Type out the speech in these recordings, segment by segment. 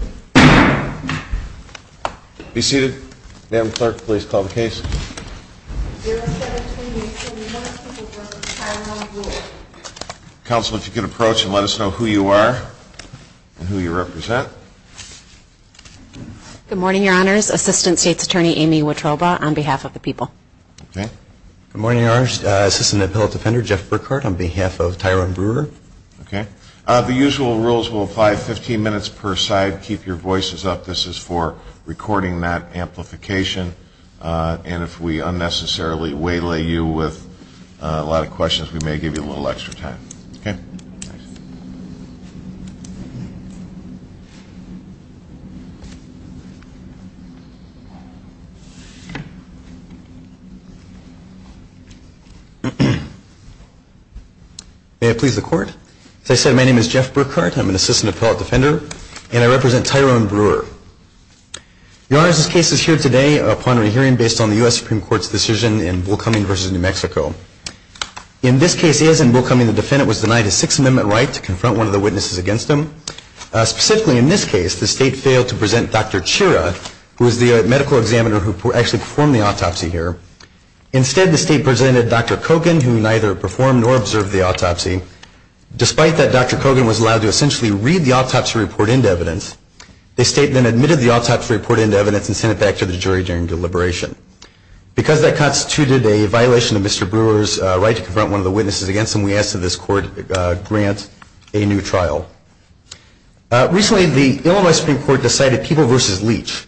072871, Tyrone Brewer Council, if you could approach and let us know who you are and who you represent. Good morning, Your Honors. Assistant State's Attorney Amy Wittroba on behalf of the people. Good morning, Your Honors. Assistant Appellate Defender Jeff Burkhart on behalf of Tyrone Brewer. The usual rules will apply 15 minutes per side. Keep your voices up. This is for recording that amplification. And if we unnecessarily waylay you with a lot of questions, we may give you a little extra time. Okay. May it please the Court. As I said, my name is Jeff Burkhart. I'm an Assistant Appellate Defender. And I represent Tyrone Brewer. Your Honors, this case is here today upon a hearing based on the U.S. Supreme Court's decision in Will Cumming v. New Mexico. In this case, as in Will Cumming, the defendant was denied a Sixth Amendment right to confront one of the witnesses against him. Specifically in this case, the State failed to present Dr. Chira, who is the medical examiner who actually performed the autopsy here. Instead, the State presented Dr. Kogan, who neither performed nor observed the autopsy. Despite that, Dr. Kogan was allowed to essentially read the autopsy report into evidence. The State then admitted the autopsy report into evidence and sent it back to the jury during deliberation. Because that constituted a violation of Mr. Brewer's right to confront one of the witnesses against him, we ask that this Court grant a new trial. Recently, the Illinois Supreme Court decided People v. Leach.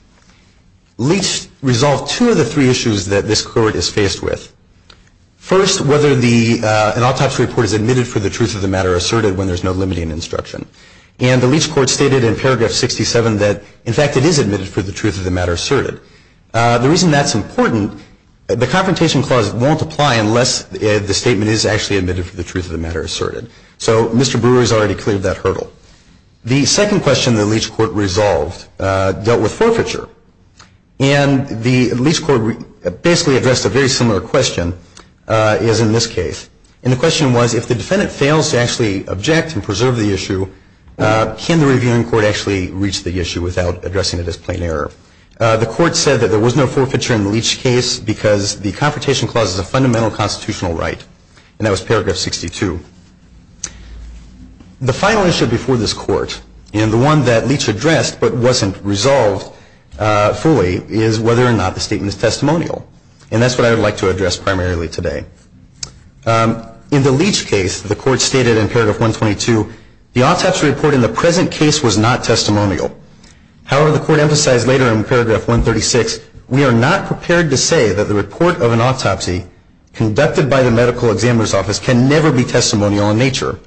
Leach resolved two of the three issues that this Court is faced with. First, whether an autopsy report is admitted for the truth of the matter asserted when there's no limiting instruction. And the Leach Court stated in paragraph 67 that, in fact, it is admitted for the truth of the matter asserted. The reason that's important, the Confrontation Clause won't apply unless the statement is actually admitted for the truth of the matter asserted. So Mr. Brewer has already cleared that hurdle. The second question the Leach Court resolved dealt with forfeiture. And the Leach Court basically addressed a very similar question as in this case. And the question was, if the defendant fails to actually object and preserve the issue, can the Reviewing Court actually reach the issue without addressing it as plain error? The Court said that there was no forfeiture in the Leach case because the Confrontation Clause is a fundamental constitutional right. And that was paragraph 62. The final issue before this Court, and the one that Leach addressed but wasn't resolved fully, is whether or not the statement is testimonial. And that's what I would like to address primarily today. In the Leach case, the Court stated in paragraph 122, the autopsy report in the present case was not testimonial. However, the Court emphasized later in paragraph 136, we are not prepared to say that the report of an autopsy conducted by the medical examiner's office can never be testimonial in nature.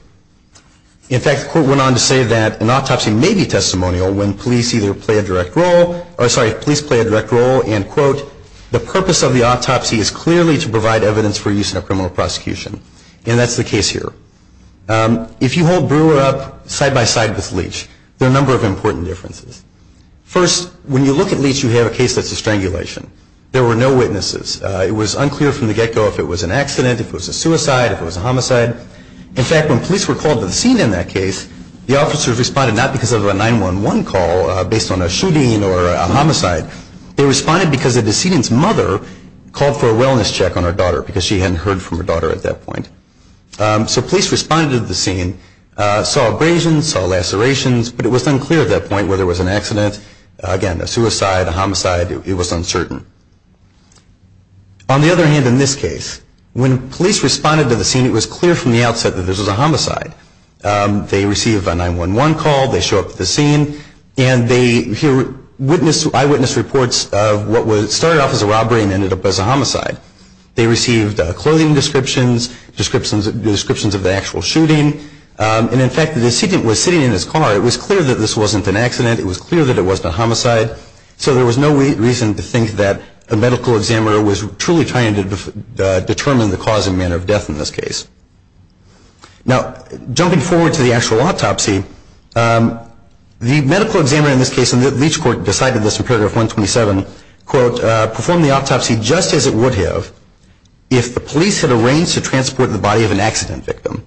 In fact, the Court went on to say that an autopsy may be testimonial when police either play a direct role, or sorry, police play a direct role and, quote, the purpose of the autopsy is clearly to provide evidence for use in a criminal prosecution. And that's the case here. If you hold Brewer up side-by-side with Leach, there are a number of important differences. First, when you look at Leach, you have a case that's a strangulation. There were no witnesses. It was unclear from the get-go if it was an accident, if it was a suicide, if it was a homicide. In fact, when police were called to the scene in that case, the officers responded not because of a 911 call based on a shooting or a homicide. They responded because the decedent's mother called for a wellness check on her daughter because she hadn't heard from her daughter at that point. So police responded to the scene, saw abrasions, saw lacerations, but it was unclear at that point whether it was an accident, again, a suicide, a homicide. It was uncertain. On the other hand, in this case, when police responded to the scene, it was clear from the outset that this was a homicide. They received a 911 call. They show up at the scene, and they hear eyewitness reports of what started off as a robbery and ended up as a homicide. They received clothing descriptions, descriptions of the actual shooting. And, in fact, the decedent was sitting in his car. It was clear that this wasn't an accident. It was clear that it wasn't a homicide. So there was no reason to think that a medical examiner was truly trying to determine the cause and manner of death in this case. Now, jumping forward to the actual autopsy, the medical examiner in this case, and Leach Court decided this in Paragraph 127, quote, performed the autopsy just as it would have if the police had arranged to transport the body of an accident victim.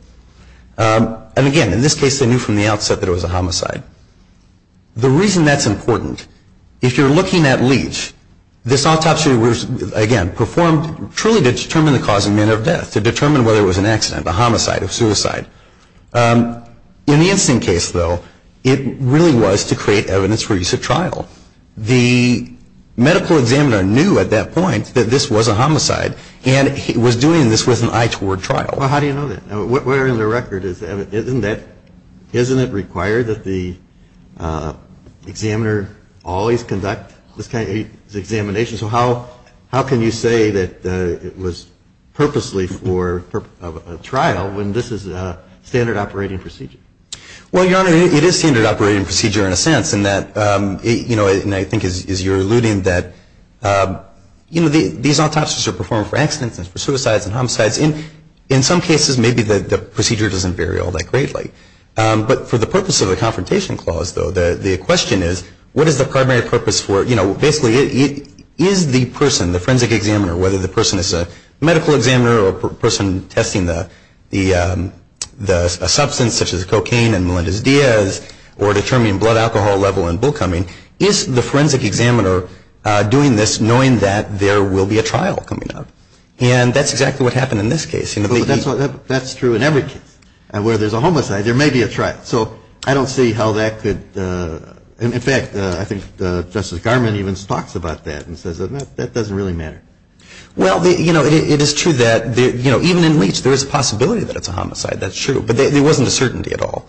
And, again, in this case, they knew from the outset that it was a homicide. The reason that's important, if you're looking at Leach, this autopsy was, again, performed truly to determine the cause and manner of death, to determine whether it was an accident, a homicide, a suicide. In the incident case, though, it really was to create evidence for use at trial. The medical examiner knew at that point that this was a homicide, and he was doing this with an eye toward trial. Well, how do you know that? We're in the record. Isn't it required that the examiner always conduct this kind of examination? So how can you say that it was purposely for a trial when this is a standard operating procedure? Well, Your Honor, it is standard operating procedure in a sense in that, you know, and I think as you're alluding that, you know, these autopsies are performed for accidents and for suicides and homicides. In some cases, maybe the procedure doesn't vary all that greatly. But for the purpose of the confrontation clause, though, the question is, what is the primary purpose for, you know, basically is the person, the forensic examiner, whether the person is a medical examiner or a person testing the substance, such as cocaine and Melendez-Diaz, or determining blood alcohol level and bullcumming, is the forensic examiner doing this knowing that there will be a trial coming up? And that's exactly what happened in this case. That's true in every case. So I don't see how that could, in fact, I think Justice Garmon even talks about that and says that doesn't really matter. Well, you know, it is true that, you know, even in Leach, there is a possibility that it's a homicide. That's true. But there wasn't a certainty at all.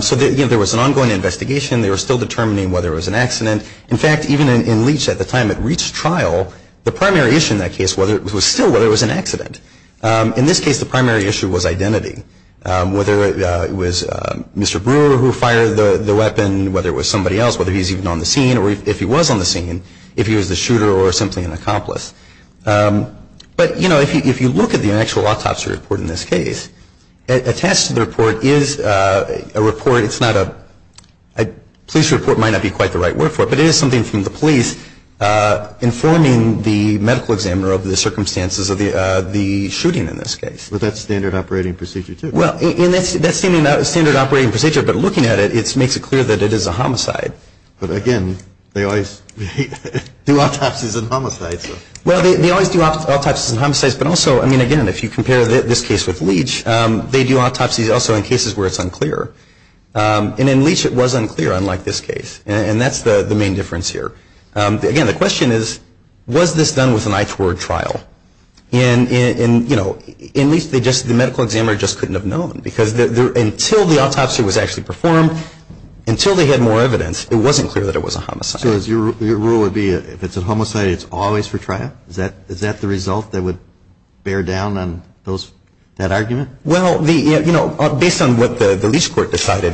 So, you know, there was an ongoing investigation. They were still determining whether it was an accident. In fact, even in Leach at the time it reached trial, the primary issue in that case was still whether it was an accident. In this case, the primary issue was identity, whether it was Mr. Brewer who fired the weapon, whether it was somebody else, whether he was even on the scene, or if he was on the scene, if he was the shooter or simply an accomplice. But, you know, if you look at the actual autopsy report in this case, attached to the report is a report, it's not a, a police report might not be quite the right word for it, but it is something from the police informing the medical examiner of the circumstances of the shooting in this case. But that's standard operating procedure too. Well, and that's standard operating procedure, but looking at it, it makes it clear that it is a homicide. But, again, they always do autopsies and homicides. Well, they always do autopsies and homicides, but also, I mean, again, if you compare this case with Leach, they do autopsies also in cases where it's unclear. And in Leach it was unclear, unlike this case. And that's the main difference here. Again, the question is, was this done with an eye toward trial? And, you know, in Leach they just, the medical examiner just couldn't have known. Because until the autopsy was actually performed, until they had more evidence, it wasn't clear that it was a homicide. So your rule would be if it's a homicide, it's always for trial? Is that the result that would bear down on that argument? Well, you know, based on what the Leach court decided,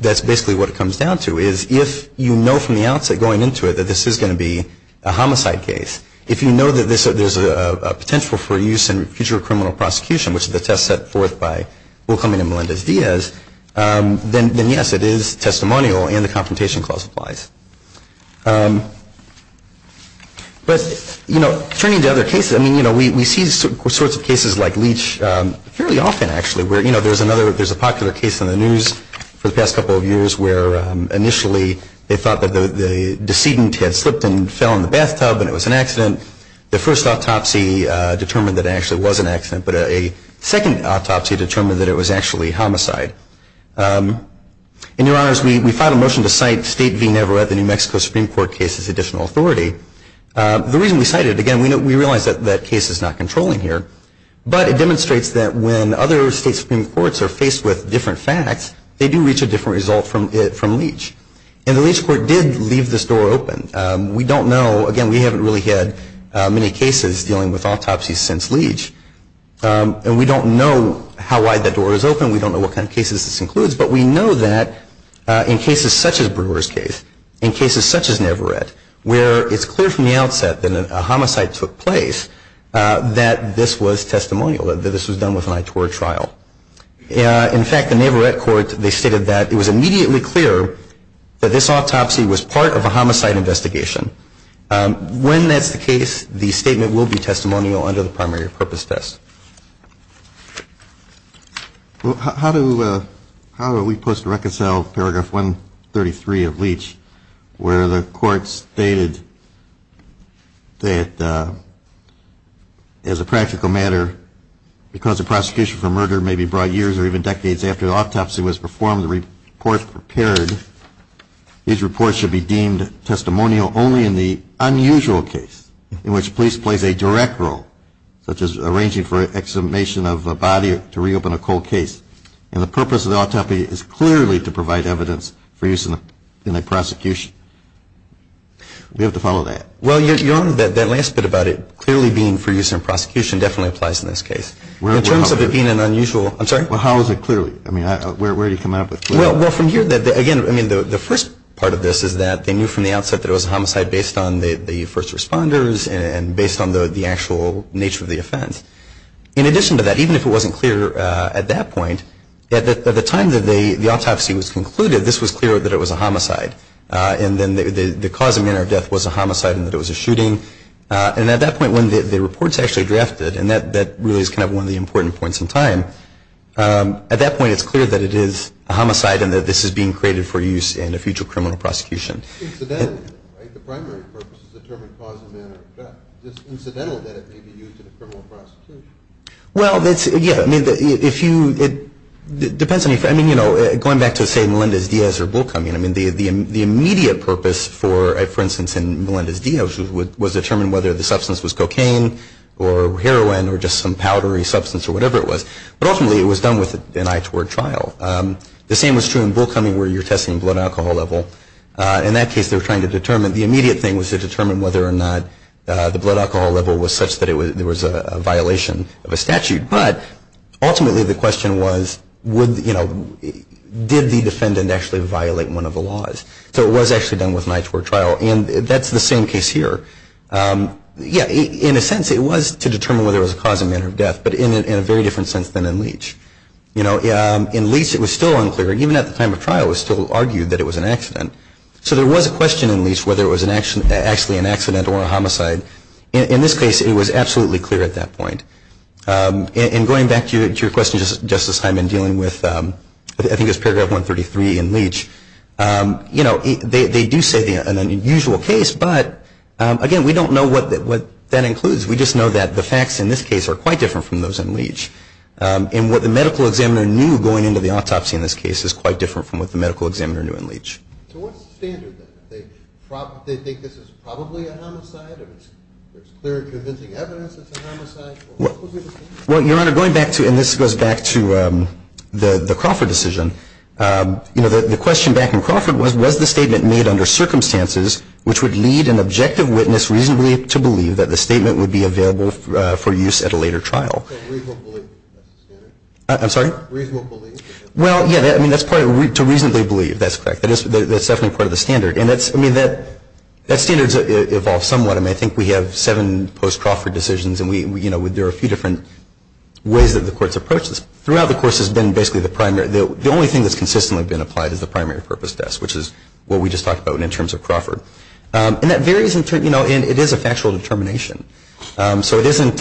that's basically what it comes down to, is if you know from the outset going into it that this is going to be a homicide case, if you know that there's a potential for use in future criminal prosecution, which is the test set forth by Will Cumming and Melendez-Diaz, then, yes, it is testimonial and the Confrontation Clause applies. But, you know, turning to other cases, I mean, you know, we see sorts of cases like Leach fairly often, actually, where, you know, there's a popular case in the news for the past couple of years where initially they thought that the decedent had slipped and fell in the bathtub and it was an accident. The first autopsy determined that it actually was an accident, but a second autopsy determined that it was actually homicide. And, Your Honors, we filed a motion to cite State v. Neverett, the New Mexico Supreme Court case, as additional authority. The reason we cite it, again, we realize that that case is not controlling here, but it demonstrates that when other state Supreme Courts are faced with different facts, they do reach a different result from Leach. And the Leach Court did leave this door open. We don't know, again, we haven't really had many cases dealing with autopsies since Leach, and we don't know how wide the door is open, we don't know what kind of cases this includes, but we know that in cases such as Brewer's case, in cases such as Neverett, where it's clear from the outset that a homicide took place, that this was testimonial, that this was done with an ITOR trial. In fact, the Neverett court, they stated that it was immediately clear that this autopsy was part of a homicide investigation. When that's the case, the statement will be testimonial under the primary purpose test. Well, how do we post and reconcile paragraph 133 of Leach, where the court stated that as a practical matter, because the prosecution for murder may be brought years or even decades after the autopsy was performed, the report prepared, these reports should be deemed testimonial only in the unusual case, in which police plays a direct role, such as arranging for exhumation of a body to reopen a cold case. And the purpose of the autopsy is clearly to provide evidence for use in the prosecution. We have to follow that. Well, you're on that last bit about it clearly being for use in prosecution definitely applies in this case. In terms of it being an unusual, I'm sorry? Well, how is it clearly? I mean, where do you come up with clearly? Well, from here, again, I mean, the first part of this is that they knew from the outset that it was a homicide based on the first responders and based on the actual nature of the offense. In addition to that, even if it wasn't clear at that point, at the time that the autopsy was concluded, this was clear that it was a homicide. And then the cause and manner of death was a homicide and that it was a shooting. And at that point, when the report's actually drafted, and that really is kind of one of the important points in time, at that point it's clear that it is a homicide and that this is being created for use in a future criminal prosecution. Incidentally, right, the primary purpose is to determine cause and manner of death. It's incidental that it may be used in a criminal prosecution. Well, that's, yeah, I mean, if you, it depends on if, I mean, you know, going back to say Melendez-Diaz or Bullcoming, I mean, the immediate purpose for instance in Melendez-Diaz was to determine whether the substance was cocaine or heroin or just some powdery substance or whatever it was. But ultimately it was done with an eye toward trial. The same was true in Bullcoming where you're testing blood alcohol level. In that case they were trying to determine, the immediate thing was to determine whether or not the blood alcohol level was such that there was a violation of a statute. But ultimately the question was would, you know, did the defendant actually violate one of the laws? So it was actually done with an eye toward trial, and that's the same case here. Yeah, in a sense it was to determine whether it was a cause and manner of death, but in a very different sense than in Leach. You know, in Leach it was still unclear, even at the time of trial it was still argued that it was an accident. So there was a question in Leach whether it was actually an accident or a homicide. In this case it was absolutely clear at that point. And going back to your question, Justice Hyman, dealing with, I think it was paragraph 133 in Leach, you know, they do say an unusual case, but again we don't know what that includes. We just know that the facts in this case are quite different from those in Leach. And what the medical examiner knew going into the autopsy in this case is quite different from what the medical examiner knew in Leach. So what's the standard then? Do they think this is probably a homicide? If it's clear and convincing evidence it's a homicide, what would be the standard? Well, Your Honor, going back to, and this goes back to the Crawford decision, you know, the question back in Crawford was, was the statement made under circumstances which would lead an objective witness reasonably to believe that the statement would be available for use at a later trial? Reasonable belief, that's the standard. I'm sorry? Reasonable belief. Well, yeah, I mean that's part of, to reasonably believe, that's correct. That is, that's definitely part of the standard. And that's, I mean, that standard evolves somewhat. I mean, I think we have seven post-Crawford decisions and we, you know, there are a few different ways that the courts approach this. Throughout the course has been basically the primary, the only thing that's consistently been applied is the primary purpose test, which is what we just talked about in terms of Crawford. And that varies, you know, and it is a factual determination. So it isn't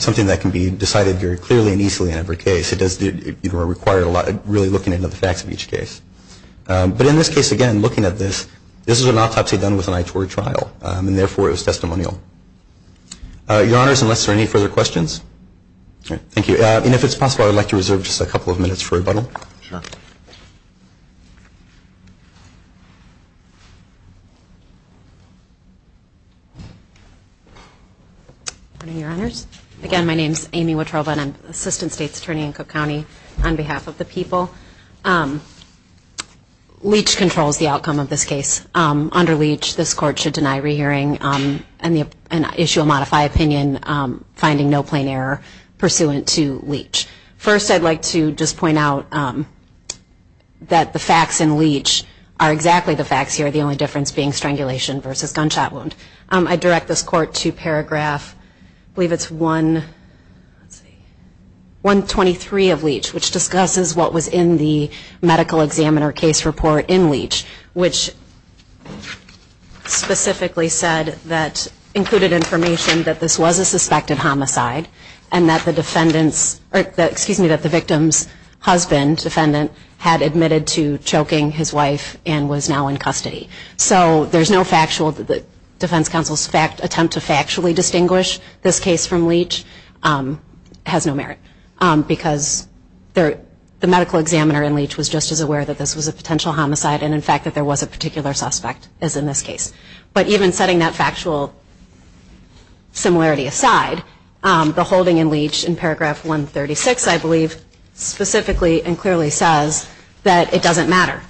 something that can be decided very clearly and easily in every case. It does, you know, require a lot of really looking into the facts of each case. But in this case, again, looking at this, this is an autopsy done with an ITOR trial. And therefore, it was testimonial. Your Honors, unless there are any further questions? All right, thank you. And if it's possible, I would like to reserve just a couple of minutes for rebuttal. Sure. Good morning, Your Honors. Again, my name is Amy Watroba and I'm Assistant State's Attorney in Cook County on behalf of the people. Leach controls the outcome of this case. Under Leach, this Court should deny rehearing and issue a modified opinion finding no plain error pursuant to Leach. First, I'd like to just point out that the facts in Leach are exactly the facts here. The only difference being strangulation versus gunshot wound. I direct this Court to paragraph, I believe it's 123 of Leach, which discusses what was in the medical examiner case report in Leach, which specifically said that, included information that this was a suspected homicide and that the defendant's, excuse me, that the victim's husband, defendant, had admitted to choking his wife and was now in custody. So there's no factual defense counsel's attempt to factually distinguish this case from Leach has no merit. Because the medical examiner in Leach was just as aware that this was a potential homicide and in fact that there was a particular suspect as in this case. But even setting that factual similarity aside, the holding in Leach in paragraph 136, I believe, specifically and clearly says that it doesn't matter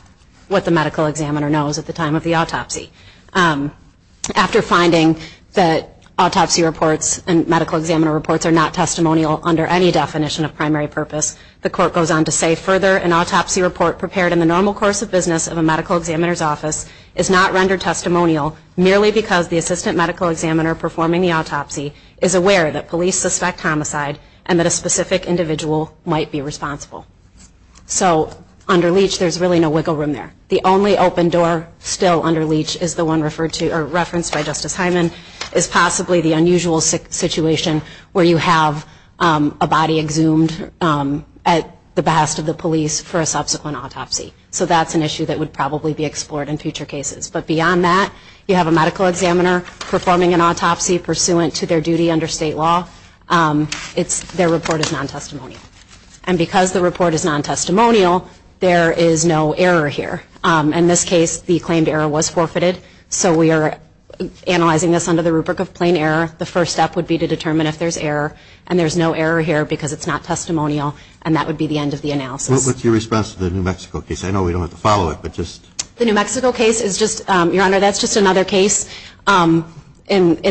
what the medical examiner knows at the time of the autopsy. After finding that autopsy reports and medical examiner reports are not testimonial under any definition of primary purpose, the Court goes on to say, further, an autopsy report prepared in the normal course of business of a medical examiner's office is not rendered testimonial merely because the assistant medical examiner performing the autopsy is aware that police suspect homicide and that a specific individual might be responsible. So under Leach there's really no wiggle room there. The only open door still under Leach is the one referred to or referenced by Justice Hyman is possibly the unusual situation where you have a body exhumed at the behest of the police for a subsequent autopsy. So that's an issue that would probably be explored in future cases. But beyond that, you have a medical examiner performing an autopsy pursuant to their duty under state law. Their report is non-testimonial. And because the report is non-testimonial, there is no error here. In this case, the claimed error was forfeited. So we are analyzing this under the rubric of plain error. The first step would be to determine if there's error. And there's no error here because it's not testimonial, and that would be the end of the analysis. What's your response to the New Mexico case? I know we don't have to follow it, but just... The New Mexico case is just, Your Honor, that's just another case in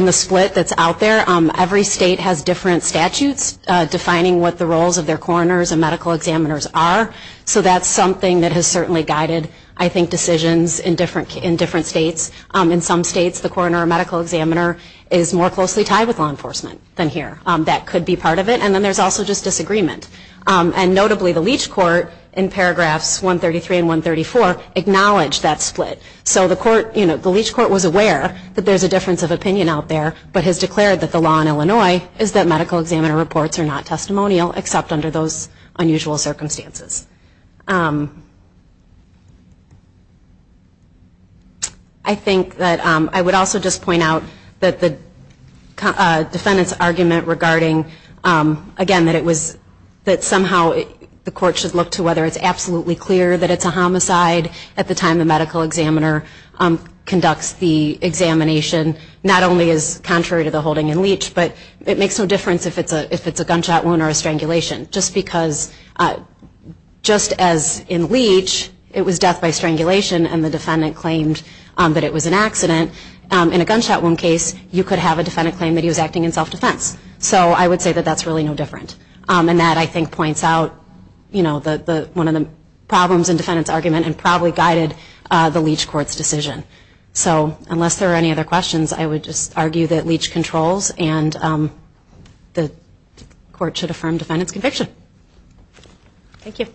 the split that's out there. Every state has different statutes defining what the roles of their coroners and medical examiners are. So that's something that has certainly guided, I think, decisions in different states. In some states, the coroner or medical examiner is more closely tied with law enforcement than here. That could be part of it. And then there's also just disagreement. And notably, the Leach Court, in paragraphs 133 and 134, acknowledged that split. So the Leach Court was aware that there's a difference of opinion out there, but has declared that the law in Illinois is that medical examiner reports are not testimonial, except under those unusual circumstances. I think that I would also just point out that the defendant's argument regarding, again, that somehow the court should look to whether it's absolutely clear that it's a homicide at the time the medical examiner conducts the examination, not only is contrary to the holding in Leach, but it makes no difference if it's a gunshot wound or a strangulation. Just because, just as in Leach, it was death by strangulation, and the defendant claimed that it was an accident, in a gunshot wound case, you could have a defendant claim that he was acting in self-defense. So I would say that that's really no different. And that, I think, points out one of the problems in the defendant's argument and probably guided the Leach Court's decision. So unless there are any other questions, I would just argue that Leach controls and the court should affirm the defendant's conviction. Thank you.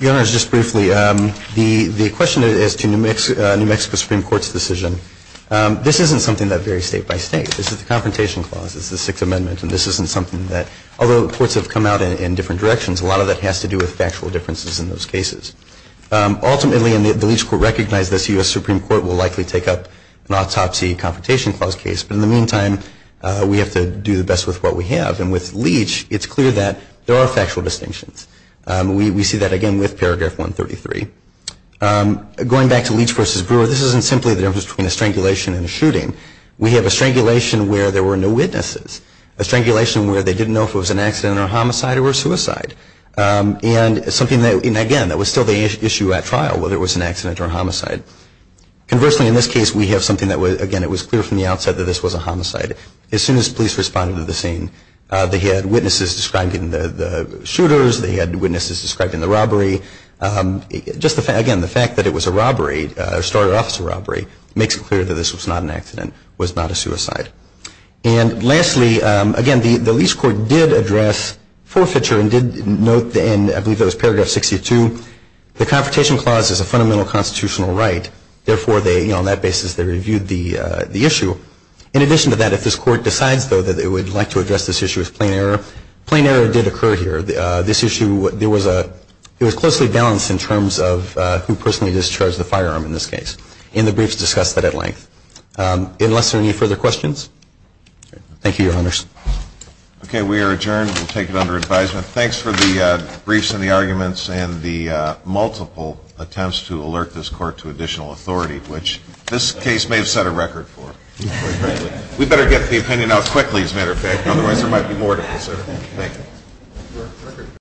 Your Honor, just briefly, the question is to New Mexico Supreme Court's decision. This isn't something that varies state by state. This is the Confrontation Clause, this is the Sixth Amendment, and this isn't something that, although courts have come out in different directions, a lot of that has to do with factual differences in those cases. Ultimately, and the Leach Court recognizes this, the U.S. Supreme Court will likely take up an autopsy Confrontation Clause case. But in the meantime, we have to do the best with what we have. And with Leach, it's clear that there are factual distinctions. We see that, again, with Paragraph 133. Going back to Leach v. Brewer, this isn't simply the difference between a strangulation and a shooting. We have a strangulation where there were no witnesses, a strangulation where they didn't know if it was an accident or a homicide or a suicide, and, again, that was still the issue at trial, whether it was an accident or a homicide. Conversely, in this case, we have something that, again, it was clear from the outset that this was a homicide. As soon as police responded to the scene, they had witnesses describing the shooters, they had witnesses describing the robbery. Again, the fact that it was a robbery, a started-office robbery, makes it clear that this was not an accident, was not a suicide. And lastly, again, the Leach court did address forfeiture and did note in, I believe it was Paragraph 62, the Confrontation Clause is a fundamental constitutional right. Therefore, on that basis, they reviewed the issue. In addition to that, if this court decides, though, that it would like to address this issue as plain error, plain error did occur here. This issue, it was closely balanced in terms of who personally discharged the firearm in this case, and the briefs discussed that at length. Unless there are any further questions? Thank you, Your Honors. Okay. We are adjourned. We'll take it under advisement. Thanks for the briefs and the arguments and the multiple attempts to alert this court to additional authority, which this case may have set a record for. We'd better get the opinion out quickly, as a matter of fact, otherwise there might be more to consider. Thank you.